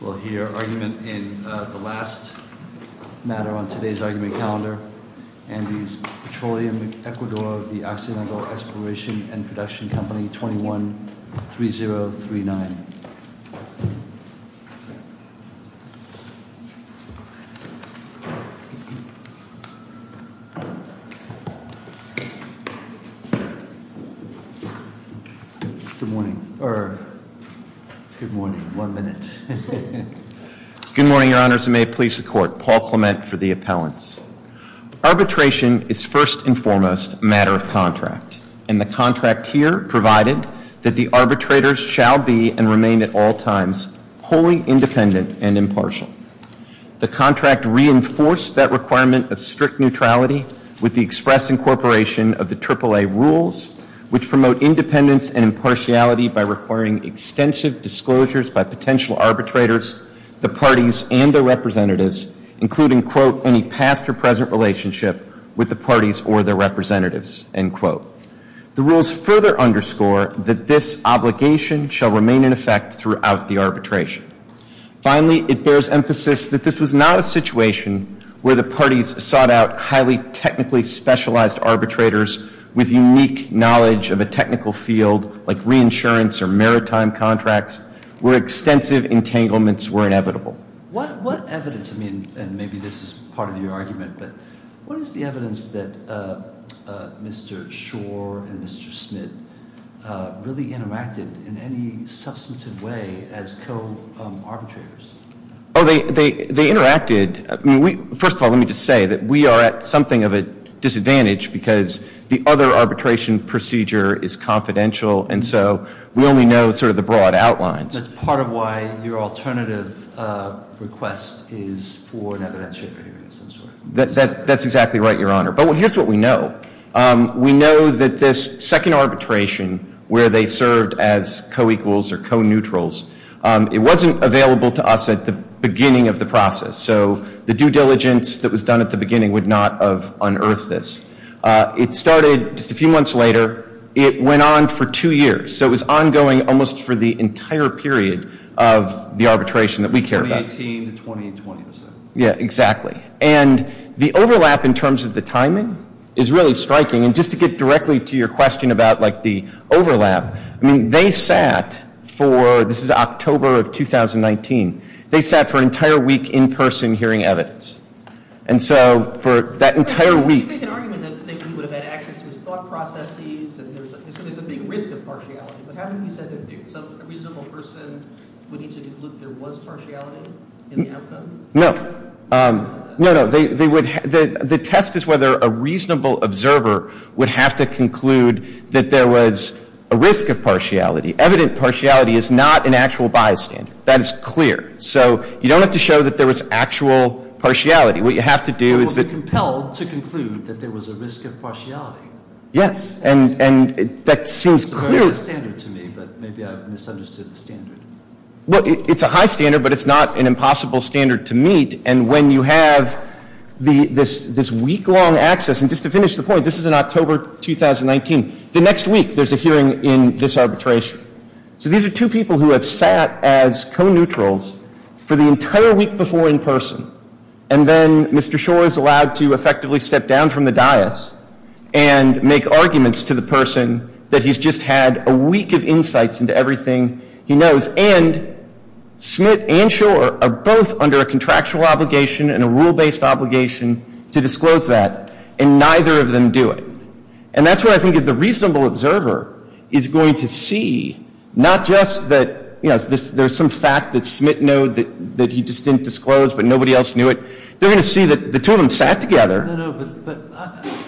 We'll hear argument in the last matter on today's argument calendar. Andes Petroleum Ecuador, the Occidental Exploration and Production Company, 21-3039. Good morning, or good morning, one minute. Good morning, your honors, and may it please the court, Paul Clement for the appellants. Arbitration is first and foremost a matter of contract. And the contract here provided that the arbitrators shall be and remain at all times wholly independent and impartial. The contract reinforced that requirement of strict neutrality with the express incorporation of the AAA rules which promote independence and impartiality by requiring extensive disclosures by potential arbitrators, the parties, and their representatives, including, quote, any past or present relationship with the parties or their representatives, end quote. The rules further underscore that this obligation shall remain in effect throughout the arbitration. Finally, it bears emphasis that this was not a situation where the parties sought out highly technically specialized arbitrators with unique knowledge of a technical field like reinsurance or maritime contracts, where extensive entanglements were inevitable. What evidence, I mean, and maybe this is part of your argument, but what is the evidence that Mr. Schor and Mr. Smith really interacted in any substantive way as co-arbitrators? Oh, they interacted, I mean, first of all, let me just say that we are at something of a disadvantage because the other arbitration procedure is confidential and so we only know sort of the broad outlines. That's part of why your alternative request is for an evidentiary period of some sort. That's exactly right, Your Honor. But here's what we know. We know that this second arbitration where they served as co-equals or co-neutrals, it wasn't available to us at the beginning of the process. So the due diligence that was done at the beginning would not have unearthed this. It started just a few months later. It went on for two years. So it was ongoing almost for the entire period of the arbitration that we care about. 2018 to 2020, you said. Yeah, exactly. And the overlap in terms of the timing is really striking. And just to get directly to your question about like the overlap, I mean, they sat for, this is October of 2019. They sat for an entire week in person hearing evidence. And so for that entire week. I think they can argue that he would have had access to his thought processes and there's a big risk of partiality. But haven't you said that a reasonable person would need to conclude there was partiality in the outcome? No. No, no. They would, the test is whether a reasonable observer would have to conclude that there was a risk of partiality. Evident partiality is not an actual bias standard. That is clear. So you don't have to show that there was actual partiality. What you have to do is that. Well, be compelled to conclude that there was a risk of partiality. Yes. And that seems clear. It's a very high standard to me, but maybe I've misunderstood the standard. Well, it's a high standard, but it's not an impossible standard to meet. And when you have this week-long access. And just to finish the point, this is in October 2019. The next week, there's a hearing in this arbitration. So these are two people who have sat as co-neutrals for the entire week before in person. And then Mr. Schor is allowed to effectively step down from the dais and make arguments to the person that he's just had a week of insights into everything he knows. And Smith and Schor are both under a contractual obligation and a rule-based obligation to disclose that, and neither of them do it. And that's what I think the reasonable observer is going to see. Not just that, you know, there's some fact that Smith knowed that he just didn't disclose, but nobody else knew it. They're going to see that the two of them sat together. No, no,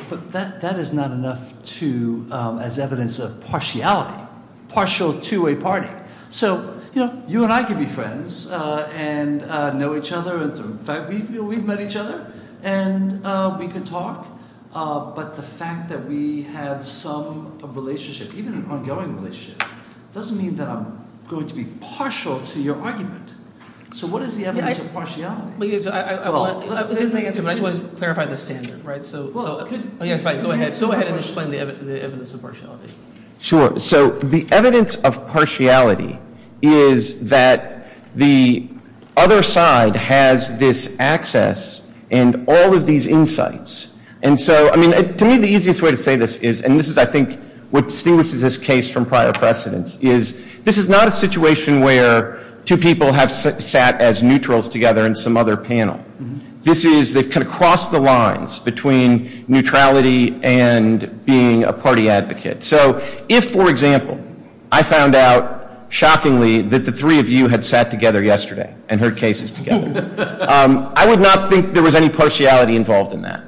but that is not enough to, as evidence of partiality. Partial to a party. So, you know, you and I could be friends and know each other. In fact, we've met each other and we could talk. But the fact that we had some relationship, even an ongoing relationship, doesn't mean that I'm going to be partial to your argument. So what is the evidence of partiality? I just want to clarify the standard, right? So go ahead and explain the evidence of partiality. Sure. So the evidence of partiality is that the other side has this access and all of these insights, and so, I mean, to me, the easiest way to say this is, and this is, I think, what distinguishes this case from prior precedents, is this is not a situation where two people have sat as neutrals together in some other panel. This is, they've kind of crossed the lines between neutrality and being a party advocate. So if, for example, I found out, shockingly, that the three of you had sat together yesterday and heard cases together, I would not think there was any partiality involved in that.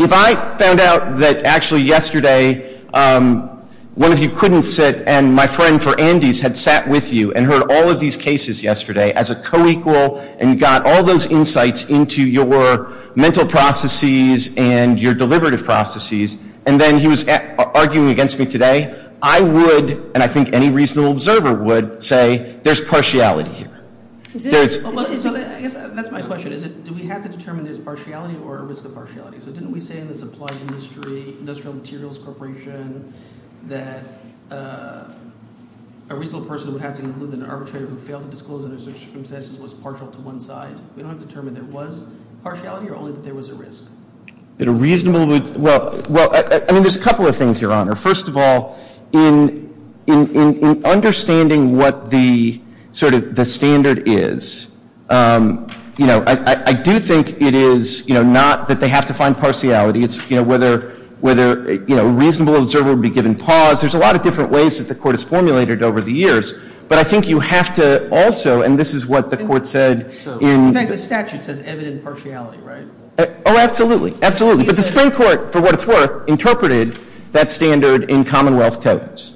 If I found out that, actually, yesterday, one of you couldn't sit and my friend for Andes had sat with you and heard all of these cases yesterday as a co-equal and got all those insights into your mental processes and your deliberative processes. And then he was arguing against me today, I would, and I think any reasonable observer would, say there's partiality here. There's- So I guess that's my question. Is it, do we have to determine there's partiality or a risk of partiality? So didn't we say in the supply industry, industrial materials corporation, that a reasonable person would have to conclude that an arbitrator who failed to disclose under such circumstances was partial to one side? We don't have to determine there was partiality or only that there was a risk. That a reasonable would, well, I mean, there's a couple of things, Your Honor. First of all, in understanding what the sort of the standard is, I do think it is not that they have to find partiality. It's whether a reasonable observer would be given pause. There's a lot of different ways that the court has formulated over the years. But I think you have to also, and this is what the court said in- In fact, the statute says evident partiality, right? Absolutely, absolutely. But the Supreme Court, for what it's worth, interpreted that standard in commonwealth codings.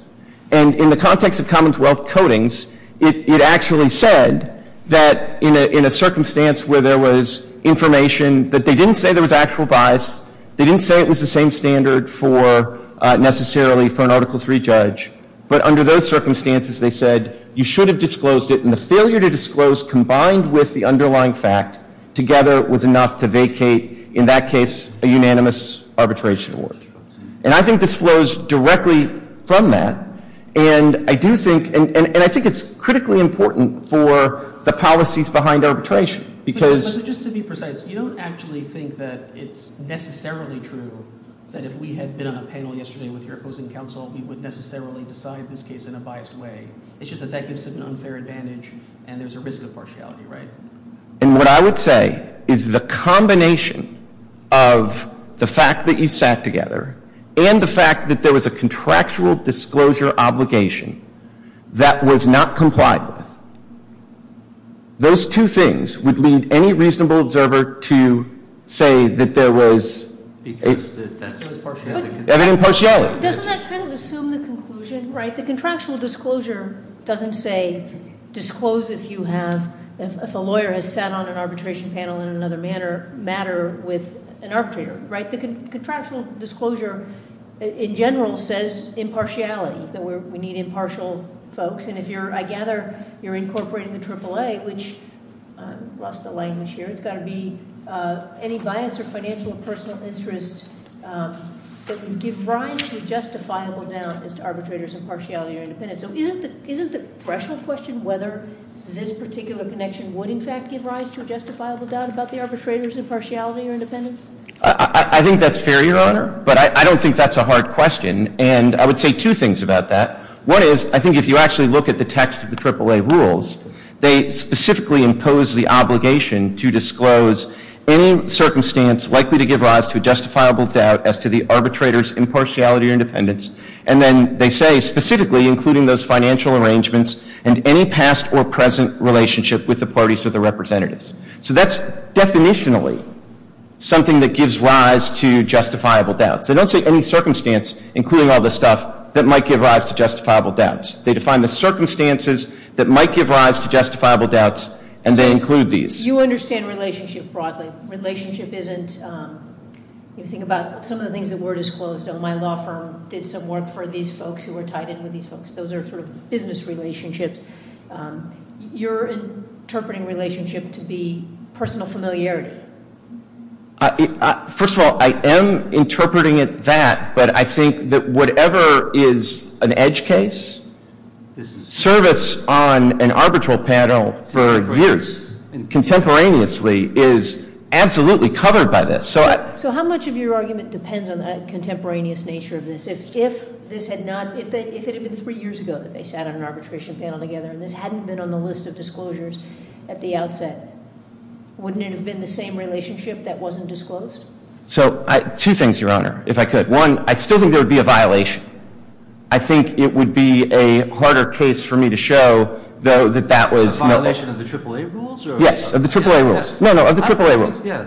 And in the context of commonwealth codings, it actually said that in a circumstance where there was information that they didn't say there was actual bias, they didn't say it was the same standard for necessarily for an Article III judge. But under those circumstances, they said you should have disclosed it. And the failure to disclose combined with the underlying fact together was enough to vacate, in that case, a unanimous arbitration award. And I think this flows directly from that. And I do think, and I think it's critically important for the policies behind arbitration. Because- But just to be precise, you don't actually think that it's necessarily true that if we had been on a panel yesterday with your opposing counsel, we would necessarily decide this case in a biased way. It's just that that gives it an unfair advantage and there's a risk of partiality, right? And what I would say is the combination of the fact that you sat together and the fact that there was a contractual disclosure obligation that was not complied with. Those two things would lead any reasonable observer to say that there was- Because that's a partiality. Partiality. Doesn't that kind of assume the conclusion, right? The contractual disclosure doesn't say disclose if you have, if a lawyer has sat on an arbitration panel in another matter with an arbitrator, right? The contractual disclosure in general says impartiality, that we need impartial folks. And if you're, I gather, you're incorporating the AAA, which I've lost the language here. It's got to be any bias or financial or personal interest that you give rise to a justifiable doubt as to arbitrators' impartiality. So isn't the threshold question whether this particular connection would in fact give rise to a justifiable doubt about the arbitrator's impartiality or independence? I think that's fair, Your Honor, but I don't think that's a hard question. And I would say two things about that. One is, I think if you actually look at the text of the AAA rules, they specifically impose the obligation to disclose any circumstance likely to give rise to a justifiable doubt as to the arbitrator's impartiality or independence. And then they say, specifically including those financial arrangements and any past or present relationship with the parties or the representatives. So that's definitionally something that gives rise to justifiable doubts. They don't say any circumstance, including all this stuff, that might give rise to justifiable doubts. They define the circumstances that might give rise to justifiable doubts, and they include these. You understand relationship broadly. Relationship isn't, if you think about some of the things that were disclosed. My law firm did some work for these folks who were tied in with these folks. Those are sort of business relationships. You're interpreting relationship to be personal familiarity. First of all, I am interpreting it that, but I think that whatever is an edge case, service on an arbitral panel for years, contemporaneously, is absolutely covered by this. So how much of your argument depends on the contemporaneous nature of this? If this had not, if it had been three years ago that they sat on an arbitration panel together and this hadn't been on the list of disclosures at the outset, wouldn't it have been the same relationship that wasn't disclosed? So, two things, Your Honor, if I could. One, I still think there would be a violation. I think it would be a harder case for me to show that that was- A violation of the AAA rules? Yes, of the AAA rules. No, no, of the AAA rules. Yeah,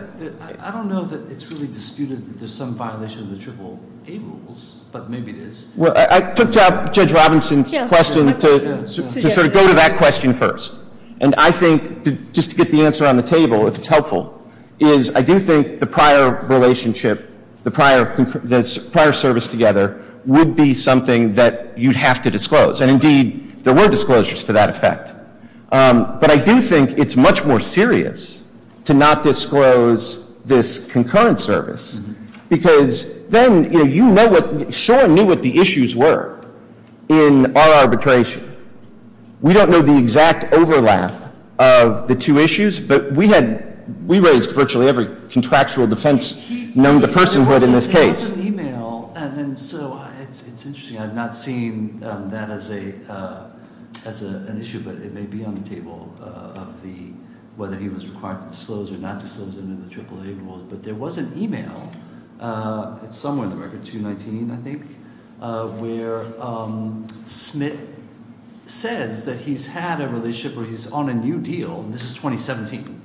I don't know that it's really disputed that there's some violation of the AAA rules, but maybe it is. Well, I took Judge Robinson's question to sort of go to that question first. And I think, just to get the answer on the table, if it's helpful, is I do think the prior relationship, the prior service together would be something that you'd have to disclose. And indeed, there were disclosures to that effect. But I do think it's much more serious to not disclose this concurrent service. Because then you know what, Soren knew what the issues were in our arbitration. We don't know the exact overlap of the two issues, but we raised virtually every contractual defense known to personhood in this case. There was an email, and so it's interesting, I've not seen that as an issue. But it may be on the table of whether he was required to disclose or not disclose under the AAA rules. But there was an email, it's somewhere in the record, 219, I think, where Smith says that he's had a relationship, or he's on a new deal, and this is 2017,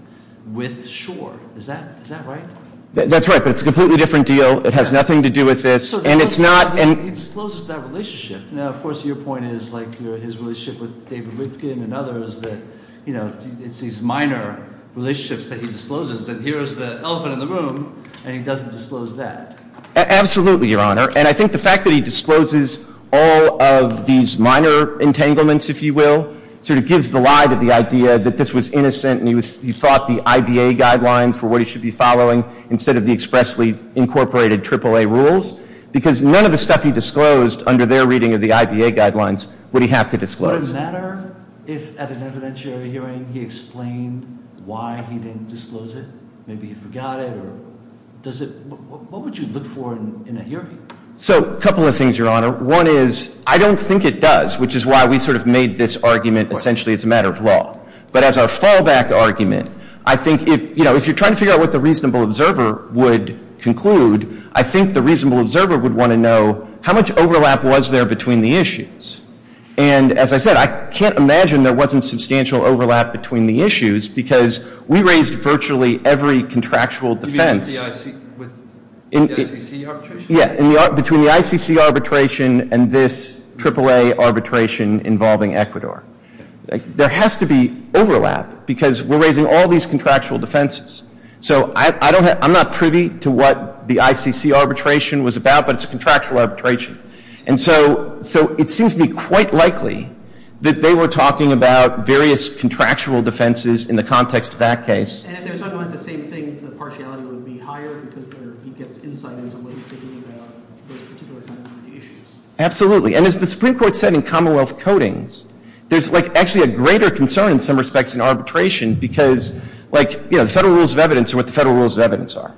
with Schor. Is that right? That's right, but it's a completely different deal. It has nothing to do with this. And it's not- He discloses that relationship. Now, of course, your point is, like his relationship with David Rivkin and others, that it's these minor relationships that he discloses. And here's the elephant in the room, and he doesn't disclose that. Absolutely, Your Honor. And I think the fact that he discloses all of these minor entanglements, if you will, sort of gives the lie to the idea that this was innocent, and he thought the IBA guidelines were what he should be following, instead of the expressly incorporated AAA rules, because none of the stuff he disclosed under their reading of the IBA guidelines would he have to disclose. Would it matter if at an evidentiary hearing he explained why he didn't disclose it? Maybe he forgot it, or does it, what would you look for in a hearing? So, a couple of things, Your Honor. One is, I don't think it does, which is why we sort of made this argument essentially as a matter of law. But as our fallback argument, I think if you're trying to figure out what the reasonable observer would conclude, I think the reasonable observer would want to know how much overlap was there between the issues. And as I said, I can't imagine there wasn't substantial overlap between the issues, because we raised virtually every contractual defense. You mean with the ICC arbitration? Yeah, between the ICC arbitration and this AAA arbitration involving Ecuador. There has to be overlap, because we're raising all these contractual defenses. So, I'm not privy to what the ICC arbitration was about, but it's a contractual arbitration. And so, it seems to me quite likely that they were talking about various contractual defenses in the context of that case. And if they were talking about the same things, the partiality would be higher, because he gets insight into what he's thinking about those particular kinds of issues. Absolutely, and as the Supreme Court said in Commonwealth Codings, there's actually a greater concern in some respects in arbitration, because the federal rules of evidence are what the federal rules of evidence are.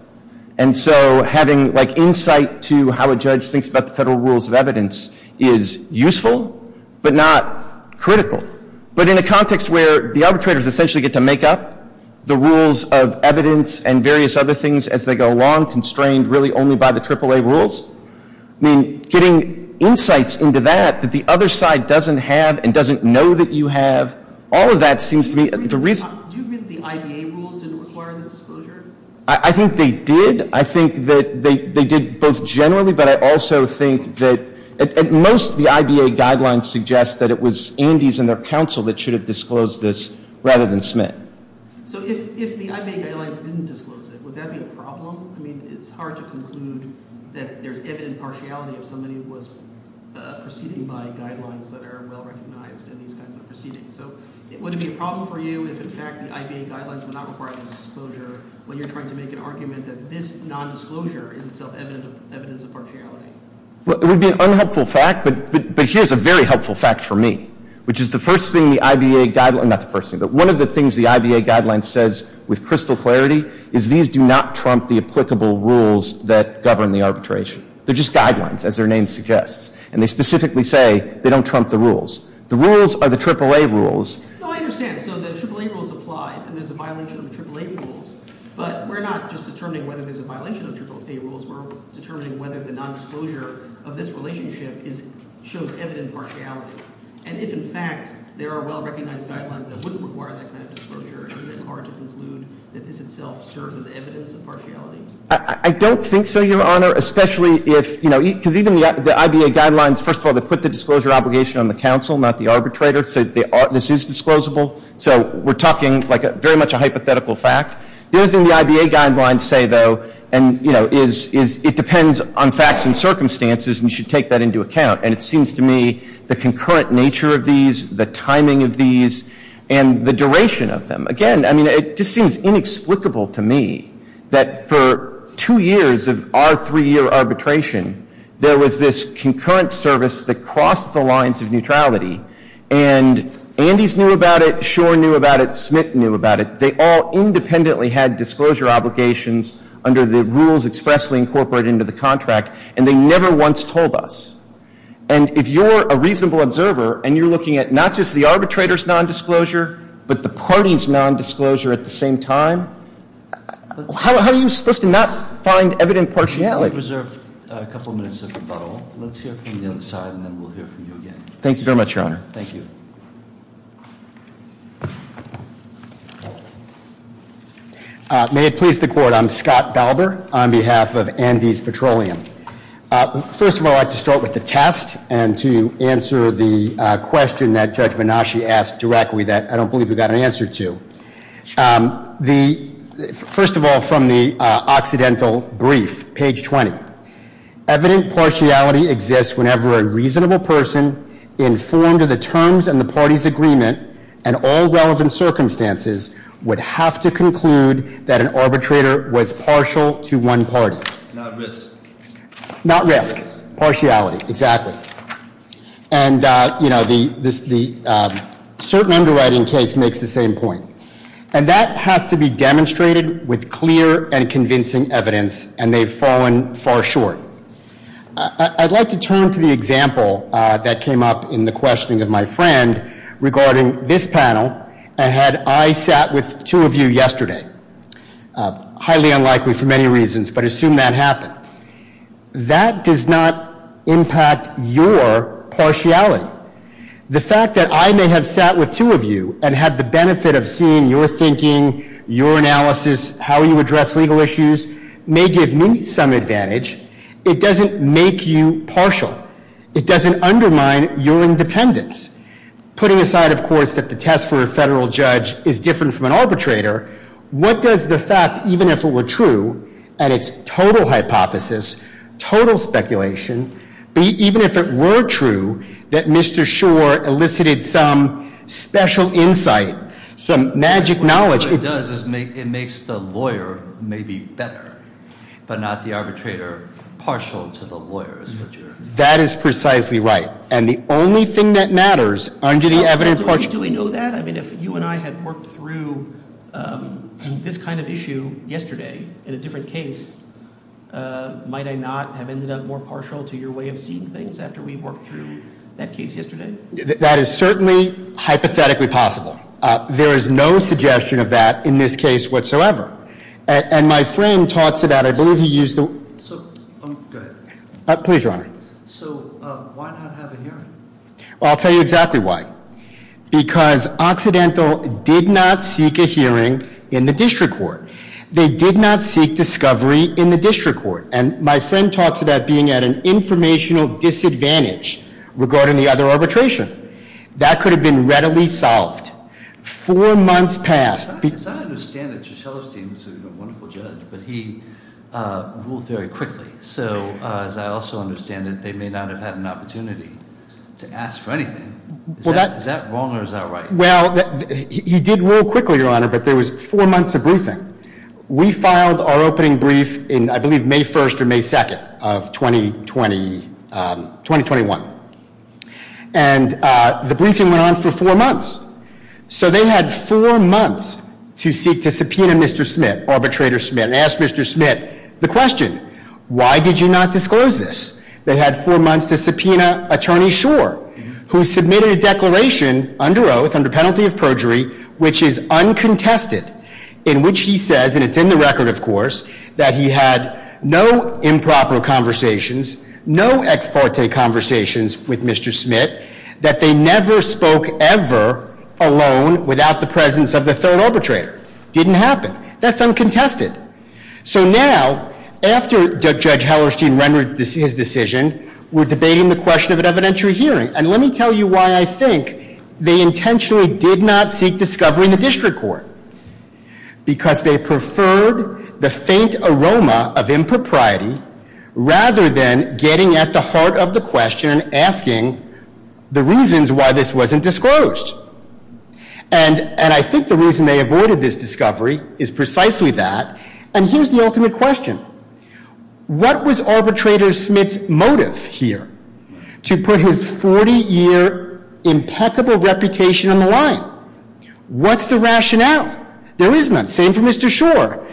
And so, having insight to how a judge thinks about the federal rules of evidence is useful, but not critical. But in a context where the arbitrators essentially get to make up the rules of evidence and various other things as they go along, constrained really only by the AAA rules, I mean, getting insights into that, that the other side doesn't have and doesn't know that you have, all of that seems to be the reason. Do you agree that the IBA rules didn't require this disclosure? I think they did. I think that they did both generally, but I also think that at most, the IBA guidelines suggest that it was Andes and their counsel that should have disclosed this rather than Smith. So if the IBA guidelines didn't disclose it, would that be a problem? I mean, it's hard to conclude that there's evident partiality of somebody who was proceeding by guidelines that are well recognized in these kinds of proceedings. So, would it be a problem for you if in fact the IBA guidelines would not require this disclosure when you're trying to make an argument that this non-disclosure is itself evidence of partiality? Well, it would be an unhelpful fact, but here's a very helpful fact for me, which is the first thing the IBA guideline, not the first thing, but one of the things the IBA guideline says with crystal clarity is these do not trump the applicable rules that govern the arbitration. They're just guidelines, as their name suggests. And they specifically say they don't trump the rules. The rules are the AAA rules. No, I understand, so the AAA rules apply, and there's a violation of the AAA rules. But we're not just determining whether there's a violation of the AAA rules. We're determining whether the non-disclosure of this relationship shows evident partiality. And if in fact there are well-recognized guidelines that wouldn't require that kind of disclosure, isn't it hard to conclude that this itself serves as evidence of partiality? I don't think so, Your Honor, especially if, you know, because even the IBA guidelines, first of all, they put the disclosure obligation on the counsel, not the arbitrator, so this is disclosable. So, we're talking like very much a hypothetical fact. The other thing the IBA guidelines say, though, and, you know, is it depends on facts and circumstances, and you should take that into account. And it seems to me the concurrent nature of these, the timing of these, and the duration of them. Again, I mean, it just seems inexplicable to me that for two years of our three-year arbitration, there was this concurrent service that crossed the lines of neutrality. And Andes knew about it, Schor knew about it, Smith knew about it. They all independently had disclosure obligations under the rules expressly incorporated into the contract. And they never once told us. And if you're a reasonable observer, and you're looking at not just the arbitrator's nondisclosure, but the party's nondisclosure at the same time, how are you supposed to not find evident partiality? Let's reserve a couple minutes of rebuttal. Let's hear from the other side, and then we'll hear from you again. Thank you very much, Your Honor. Thank you. May it please the court, I'm Scott Dauber on behalf of Andes Petroleum. First of all, I'd like to start with the test and to answer the question that Judge Menashe asked directly that I don't believe we got an answer to. First of all, from the Occidental Brief, page 20. Evident partiality exists whenever a reasonable person informed of the terms and the party's agreement and all relevant circumstances would have to conclude that an arbitrator was partial to one party. Not risk. Partiality. Exactly. And the certain underwriting case makes the same point. And that has to be demonstrated with clear and convincing evidence, and they've fallen far short. I'd like to turn to the example that came up in the questioning of my friend regarding this panel. And had I sat with two of you yesterday, highly unlikely for many reasons, but assume that happened. That does not impact your partiality. The fact that I may have sat with two of you and had the benefit of seeing your thinking, your analysis, how you address legal issues, may give me some advantage. It doesn't make you partial. It doesn't undermine your independence. Putting aside, of course, that the test for a federal judge is different from an arbitrator, what does the fact, even if it were true, and it's total hypothesis, total speculation. But even if it were true, that Mr. Schor elicited some special insight, some magic knowledge. What it does is it makes the lawyer maybe better, but not the arbitrator partial to the lawyers. That is precisely right. And the only thing that matters under the evident partiality. Do we know that? I mean, if you and I had worked through this kind of issue yesterday in a different case, might I not have ended up more partial to your way of seeing things after we worked through that case yesterday? That is certainly hypothetically possible. There is no suggestion of that in this case whatsoever. And my friend talks about it, I believe he used the- So, go ahead. Please, Your Honor. So, why not have a hearing? I'll tell you exactly why. Because Occidental did not seek a hearing in the district court. They did not seek discovery in the district court. And my friend talks about being at an informational disadvantage regarding the other arbitration. That could have been readily solved. Four months passed. Because I understand that Juscello Steen is a wonderful judge, but he ruled very quickly. So, as I also understand it, they may not have had an opportunity to ask for anything. Is that wrong or is that right? Well, he did rule quickly, Your Honor, but there was four months of briefing. We filed our opening brief in, I believe, May 1st or May 2nd of 2021. And the briefing went on for four months. So, they had four months to seek to subpoena Mr. Smith, arbitrator Smith, and ask Mr. Smith the question. Why did you not disclose this? They had four months to subpoena Attorney Schor, who submitted a declaration under oath, under penalty of perjury, which is uncontested, in which he says, and it's in the record, of course, that he had no improper conversations, no ex parte conversations with Mr. Smith, that they never spoke ever alone without the presence of the third arbitrator. Didn't happen. That's uncontested. So now, after Judge Hallerstein rendered his decision, we're debating the question of an evidentiary hearing. And let me tell you why I think they intentionally did not seek discovery in the district court. Because they preferred the faint aroma of impropriety rather than getting at the heart of the question and asking the reasons why this wasn't disclosed. And I think the reason they avoided this discovery is precisely that. And here's the ultimate question. What was arbitrator Smith's motive here? To put his 40 year impeccable reputation on the line. What's the rationale? There is none. Same for Mr. Schor.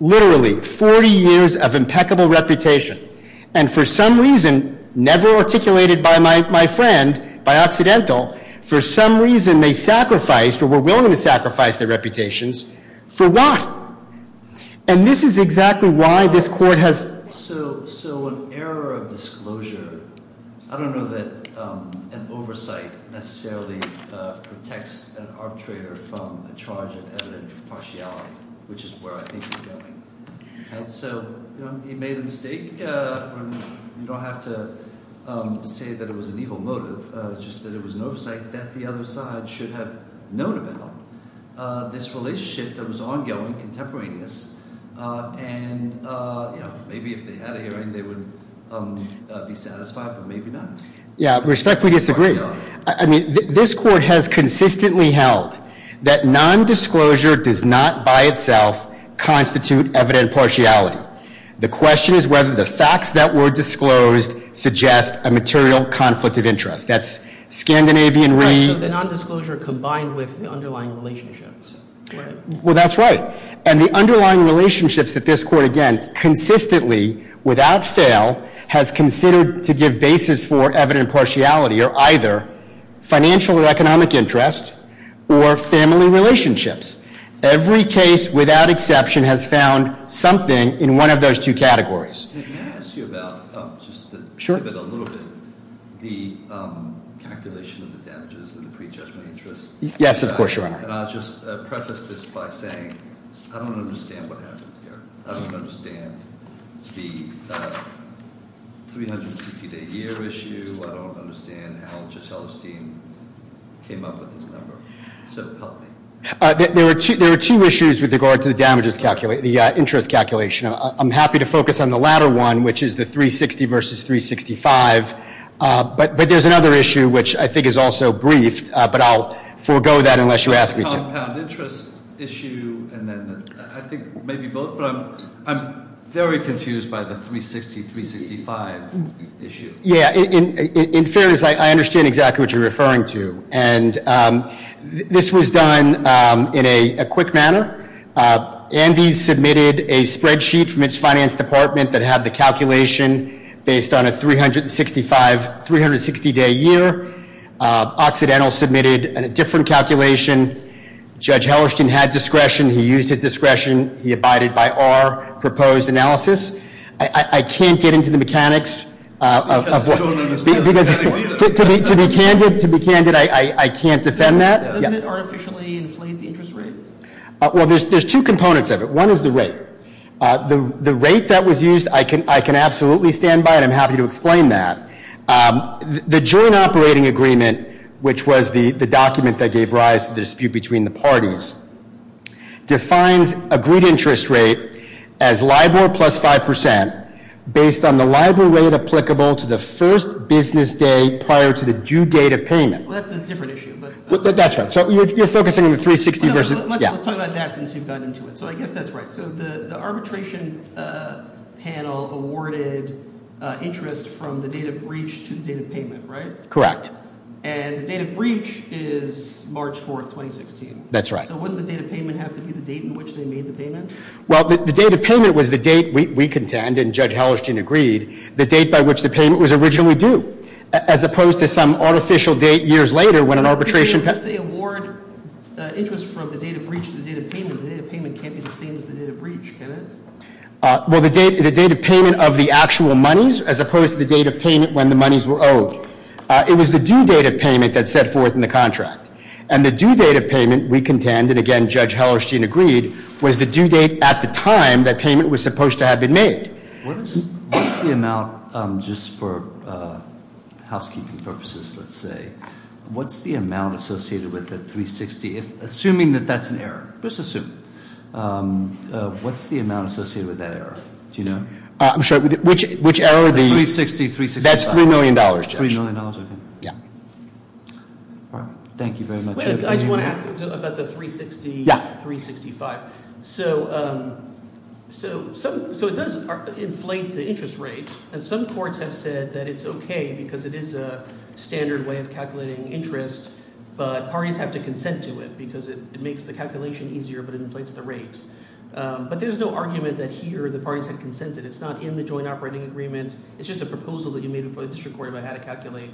Literally, 40 years of impeccable reputation. And for some reason, never articulated by my friend, by accidental, for some reason, they sacrificed, or were willing to sacrifice their reputations. For what? And this is exactly why this court has. So an error of disclosure, I don't know that an oversight necessarily protects an arbitrator from a charge of evident partiality, which is where I think we're going. And so, he made a mistake. I think we don't have to say that it was an evil motive, just that it was an oversight that the other side should have known about this relationship that was ongoing, contemporaneous. And maybe if they had a hearing, they would be satisfied, but maybe not. Yeah, respectfully disagree. I mean, this court has consistently held that non-disclosure does not by itself constitute evident partiality. The question is whether the facts that were disclosed suggest a material conflict of interest. That's Scandinavian re- Right, so the non-disclosure combined with the underlying relationships, right? Well, that's right. And the underlying relationships that this court, again, consistently, without fail, has considered to give basis for evident partiality are either financial or economic interest or family relationships. Every case, without exception, has found something in one of those two categories. Can I ask you about, just to give it a little bit, the calculation of the damages and the pre-judgment interest? Yes, of course, Your Honor. And I'll just preface this by saying, I don't understand what happened here. I don't understand the 360 day a year issue. I don't understand how Judge Hellerstein came up with this number. So help me. There are two issues with regard to the damages, the interest calculation. I'm happy to focus on the latter one, which is the 360 versus 365. But there's another issue, which I think is also briefed, but I'll forego that unless you ask me to. Compound interest issue, and then I think maybe both, but I'm very confused by the 360, 365 issue. Yeah, in fairness, I understand exactly what you're referring to. And this was done in a quick manner. Andy submitted a spreadsheet from his finance department that had the calculation based on a 365, 360 day a year. Occidental submitted a different calculation. Judge Hellerstein had discretion. He used his discretion. He abided by our proposed analysis. I can't get into the mechanics of what- Because I don't understand the mechanics either. To be candid, I can't defend that. Doesn't it artificially inflate the interest rate? Well, there's two components of it. One is the rate. The rate that was used, I can absolutely stand by it. I'm happy to explain that. The joint operating agreement, which was the document that gave rise to the dispute between the parties, defines agreed interest rate as LIBOR plus 5% based on the LIBOR rate applicable to the first business day prior to the due date of payment. Well, that's a different issue, but- That's right. So you're focusing on the 360 versus- No, let's talk about that since you've gotten into it. So I guess that's right. So the arbitration panel awarded interest from the date of breach to the date of payment, right? Correct. And the date of breach is March 4th, 2016. That's right. So wouldn't the date of payment have to be the date in which they made the payment? Well, the date of payment was the date we contend, and Judge Hallerstein agreed, the date by which the payment was originally due. As opposed to some artificial date years later when an arbitration- But if they award interest from the date of breach to the date of payment, the date of payment can't be the same as the date of breach, can it? Well, the date of payment of the actual monies, as opposed to the date of payment when the monies were owed. It was the due date of payment that set forth in the contract. And the due date of payment, we contend, and again, Judge Hallerstein agreed, was the due date at the time that payment was supposed to have been made. What is the amount, just for housekeeping purposes, let's say. What's the amount associated with the 360, assuming that that's an error. Just assume. What's the amount associated with that error? Do you know? I'm sorry, which error of the- The 360, 365. That's $3 million, Judge. $3 million, okay. Yeah. All right, thank you very much. I just want to ask about the 360, 365. So it does inflate the interest rate, and some courts have said that it's okay because it is a standard way of calculating interest. But parties have to consent to it because it makes the calculation easier, but it inflates the rate. But there's no argument that here the parties have consented. It's not in the joint operating agreement. It's just a proposal that you made before the district court about how to calculate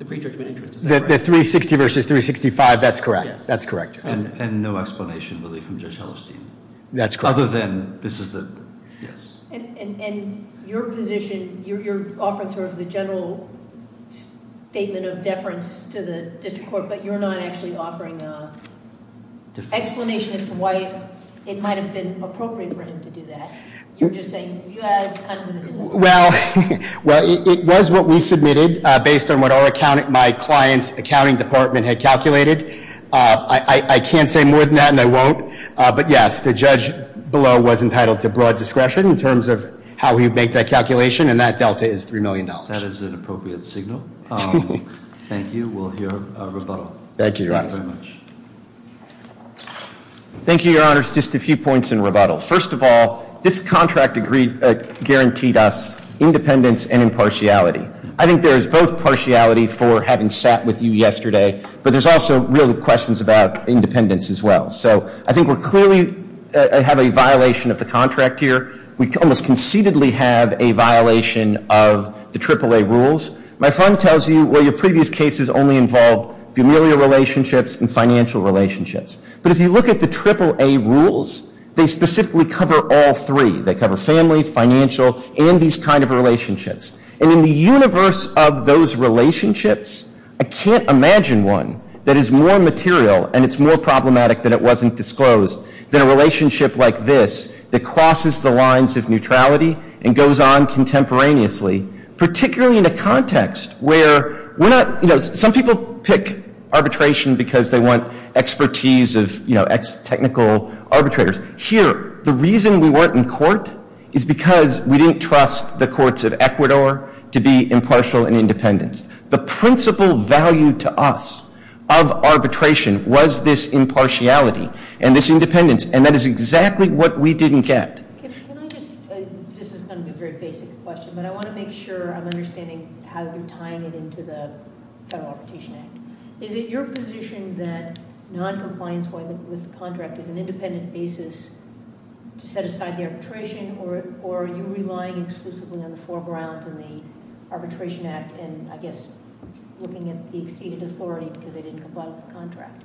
the pre-judgment interest. Is that correct? The 360 versus 365, that's correct. That's correct. And no explanation, really, from Judge Hallerstein. That's correct. Other than this is the, yes. And your position, you're offering sort of the general statement of deference to the district court, but you're not actually offering an explanation as to why it might have been appropriate for him to do that. You're just saying, yeah, it's kind of in his- Well, it was what we submitted, based on what my client's accounting department had calculated. I can't say more than that, and I won't. But yes, the judge below was entitled to broad discretion in terms of how he would make that calculation, and that delta is $3 million. That is an appropriate signal. Thank you. We'll hear a rebuttal. Thank you, Your Honor. Thank you, Your Honors. Just a few points in rebuttal. First of all, this contract guaranteed us independence and impartiality. I think there is both partiality for having sat with you yesterday, but there's also real questions about independence as well. So I think we're clearly, I have a violation of the contract here. We almost conceitedly have a violation of the AAA rules. My fund tells you, well, your previous cases only involved familial relationships and financial relationships. But if you look at the AAA rules, they specifically cover all three. They cover family, financial, and these kind of relationships. And in the universe of those relationships, I can't imagine one that is more material, and it's more problematic than it wasn't disclosed, than a relationship like this that crosses the lines of neutrality and goes on contemporaneously, particularly in a context where we're not, some people pick arbitration because they want expertise of ex-technical arbitrators. Here, the reason we weren't in court is because we didn't trust the courts of Ecuador to be impartial and independent. The principal value to us of arbitration was this impartiality and this independence, and that is exactly what we didn't get. Can I just, this is going to be a very basic question, but I want to make sure I'm understanding how you're tying it into the Federal Arbitration Act. Is it your position that non-compliance with the contract is an independent basis to set aside the arbitration, or are you relying exclusively on the foreground in the Arbitration Act, and I guess looking at the exceeded authority because they didn't comply with the contract?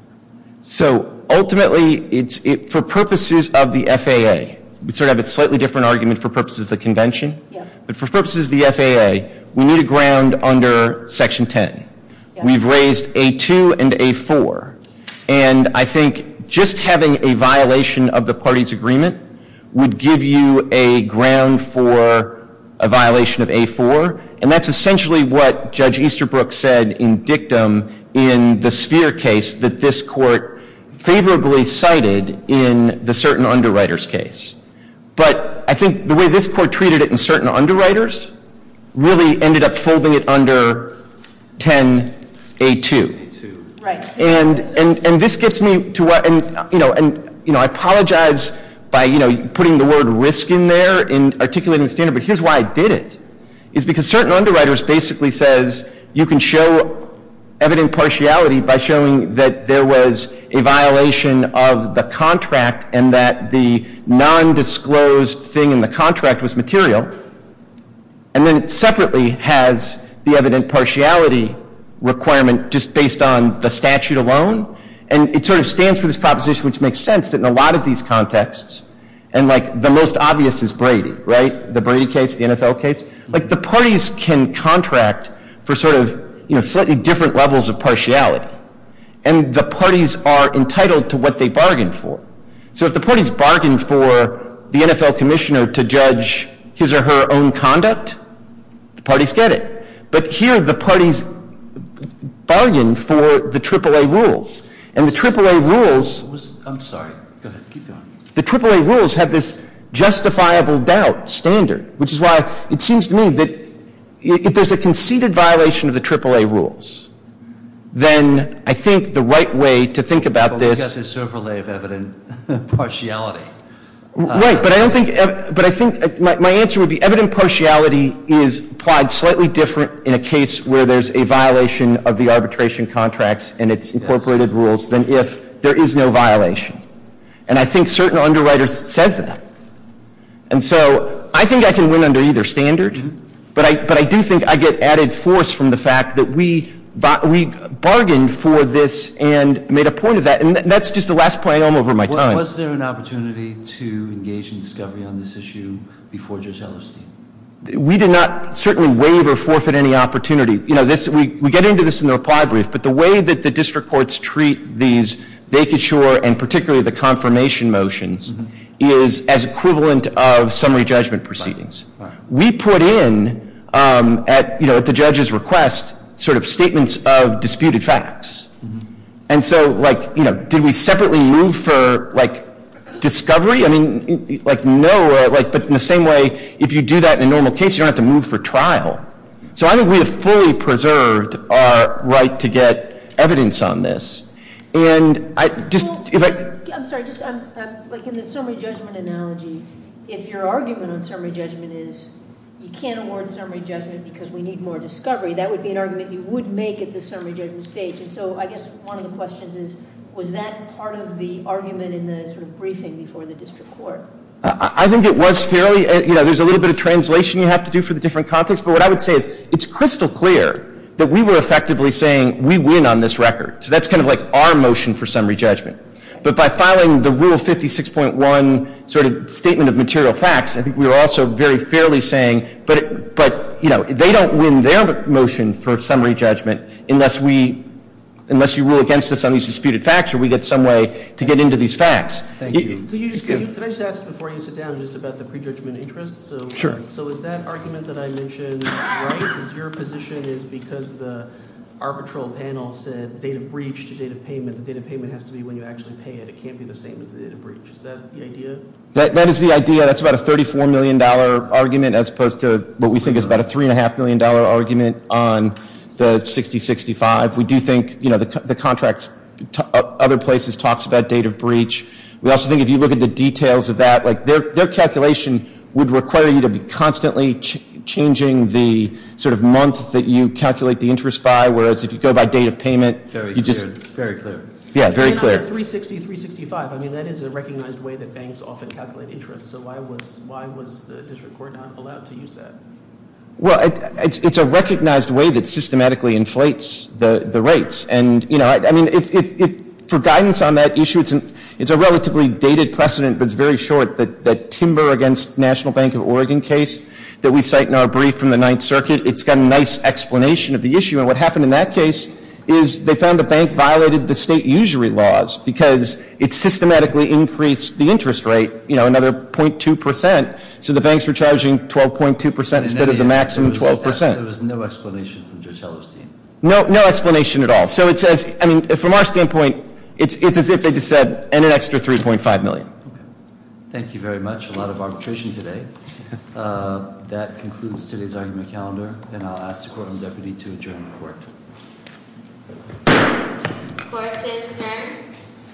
So, ultimately, it's, for purposes of the FAA, we sort of have a slightly different argument for purposes of the convention. Yeah. But for purposes of the FAA, we need a ground under Section 10. We've raised A2 and A4, and I think just having a violation of the party's agreement would give you a ground for a violation of A4, and that's essentially what Judge Easterbrook said in dictum in the sphere case that this court favorably cited in the certain underwriters case. But I think the way this court treated it in certain underwriters really ended up folding it under 10A2. Right. And this gets me to what, and I apologize by putting the word risk in there and articulating the standard, but here's why I did it. Is because certain underwriters basically says you can show evident partiality by showing that there was a violation of the contract, and that the non-disclosed thing in the contract was material. And then it separately has the evident partiality requirement just based on the statute alone. And it sort of stands for this proposition, which makes sense that in a lot of these contexts, and like the most obvious is Brady, right, the Brady case, the NFL case. Like the parties can contract for sort of, you know, slightly different levels of partiality. And the parties are entitled to what they bargained for. So if the parties bargained for the NFL commissioner to judge his or her own conduct, the parties get it. But here the parties bargained for the AAA rules. And the AAA rules. I'm sorry, go ahead, keep going. The AAA rules have this justifiable doubt standard, which is why it seems to me that if there's a conceded violation of the AAA rules, then I think the right way to think about this- But we've got this overlay of evident partiality. Right, but I don't think, but I think my answer would be evident partiality is applied slightly different in a case where there's a violation of the arbitration contracts and its incorporated rules than if there is no violation. And I think certain underwriters says that. And so I think I can win under either standard, but I do think I get added force from the fact that we bargained for this and made a point of that, and that's just the last point I'll make over my time. Was there an opportunity to engage in discovery on this issue before Judge Ellerstein? We did not certainly waive or forfeit any opportunity. You know, we get into this in the reply brief, but the way that the district courts treat these vacature and particularly the confirmation motions is as equivalent of summary judgment proceedings. We put in at the judge's request sort of statements of disputed facts. And so did we separately move for discovery? I mean, no, but in the same way, if you do that in a normal case, you don't have to move for trial. So I think we have fully preserved our right to get evidence on this. And I just- I'm sorry, just like in the summary judgment analogy, if your argument on summary judgment is, you can't award summary judgment because we need more discovery, that would be an argument you would make at the summary judgment stage. And so I guess one of the questions is, was that part of the argument in the sort of briefing before the district court? I think it was fairly, you know, there's a little bit of translation you have to do for the different contexts. But what I would say is, it's crystal clear that we were effectively saying, we win on this record. So that's kind of like our motion for summary judgment. But by filing the Rule 56.1 sort of statement of material facts, I think we were also very fairly saying, but they don't win their motion for summary judgment unless we, unless you rule against us on these disputed facts or we get some way to get into these facts. Thank you. Can I just ask before you sit down just about the prejudgment interest? Sure. So is that argument that I mentioned right? Because the arbitral panel said, date of breach to date of payment, the date of payment has to be when you actually pay it. It can't be the same as the date of breach. Is that the idea? That is the idea. That's about a $34 million argument as opposed to what we think is about a $3.5 million argument on the 60-65. We do think, you know, the contracts, other places talks about date of breach. We also think if you look at the details of that, like their calculation would require you to be constantly changing the sort of month that you calculate the interest by, whereas if you go by date of payment, you just. Very clear. Yeah, very clear. And on the 360, 365, I mean that is a recognized way that banks often calculate interest. So why was the district court not allowed to use that? Well, it's a recognized way that systematically inflates the rates. And, you know, I mean, for guidance on that issue, it's a relatively dated precedent, but it's very short, that Timber against National Bank of Oregon case that we cite in our brief from the Ninth Circuit. It's got a nice explanation of the issue. And what happened in that case is they found the bank violated the state usury laws, because it systematically increased the interest rate, you know, another 0.2%. So the banks were charging 12.2% instead of the maximum 12%. There was no explanation from Judge Hellerstein. No explanation at all. So it says, I mean, from our standpoint, it's as if they just said, and an extra 3.5 million. Thank you very much. A lot of arbitration today. That concludes today's argument calendar. And I'll ask the courtroom deputy to adjourn the court. Court is adjourned.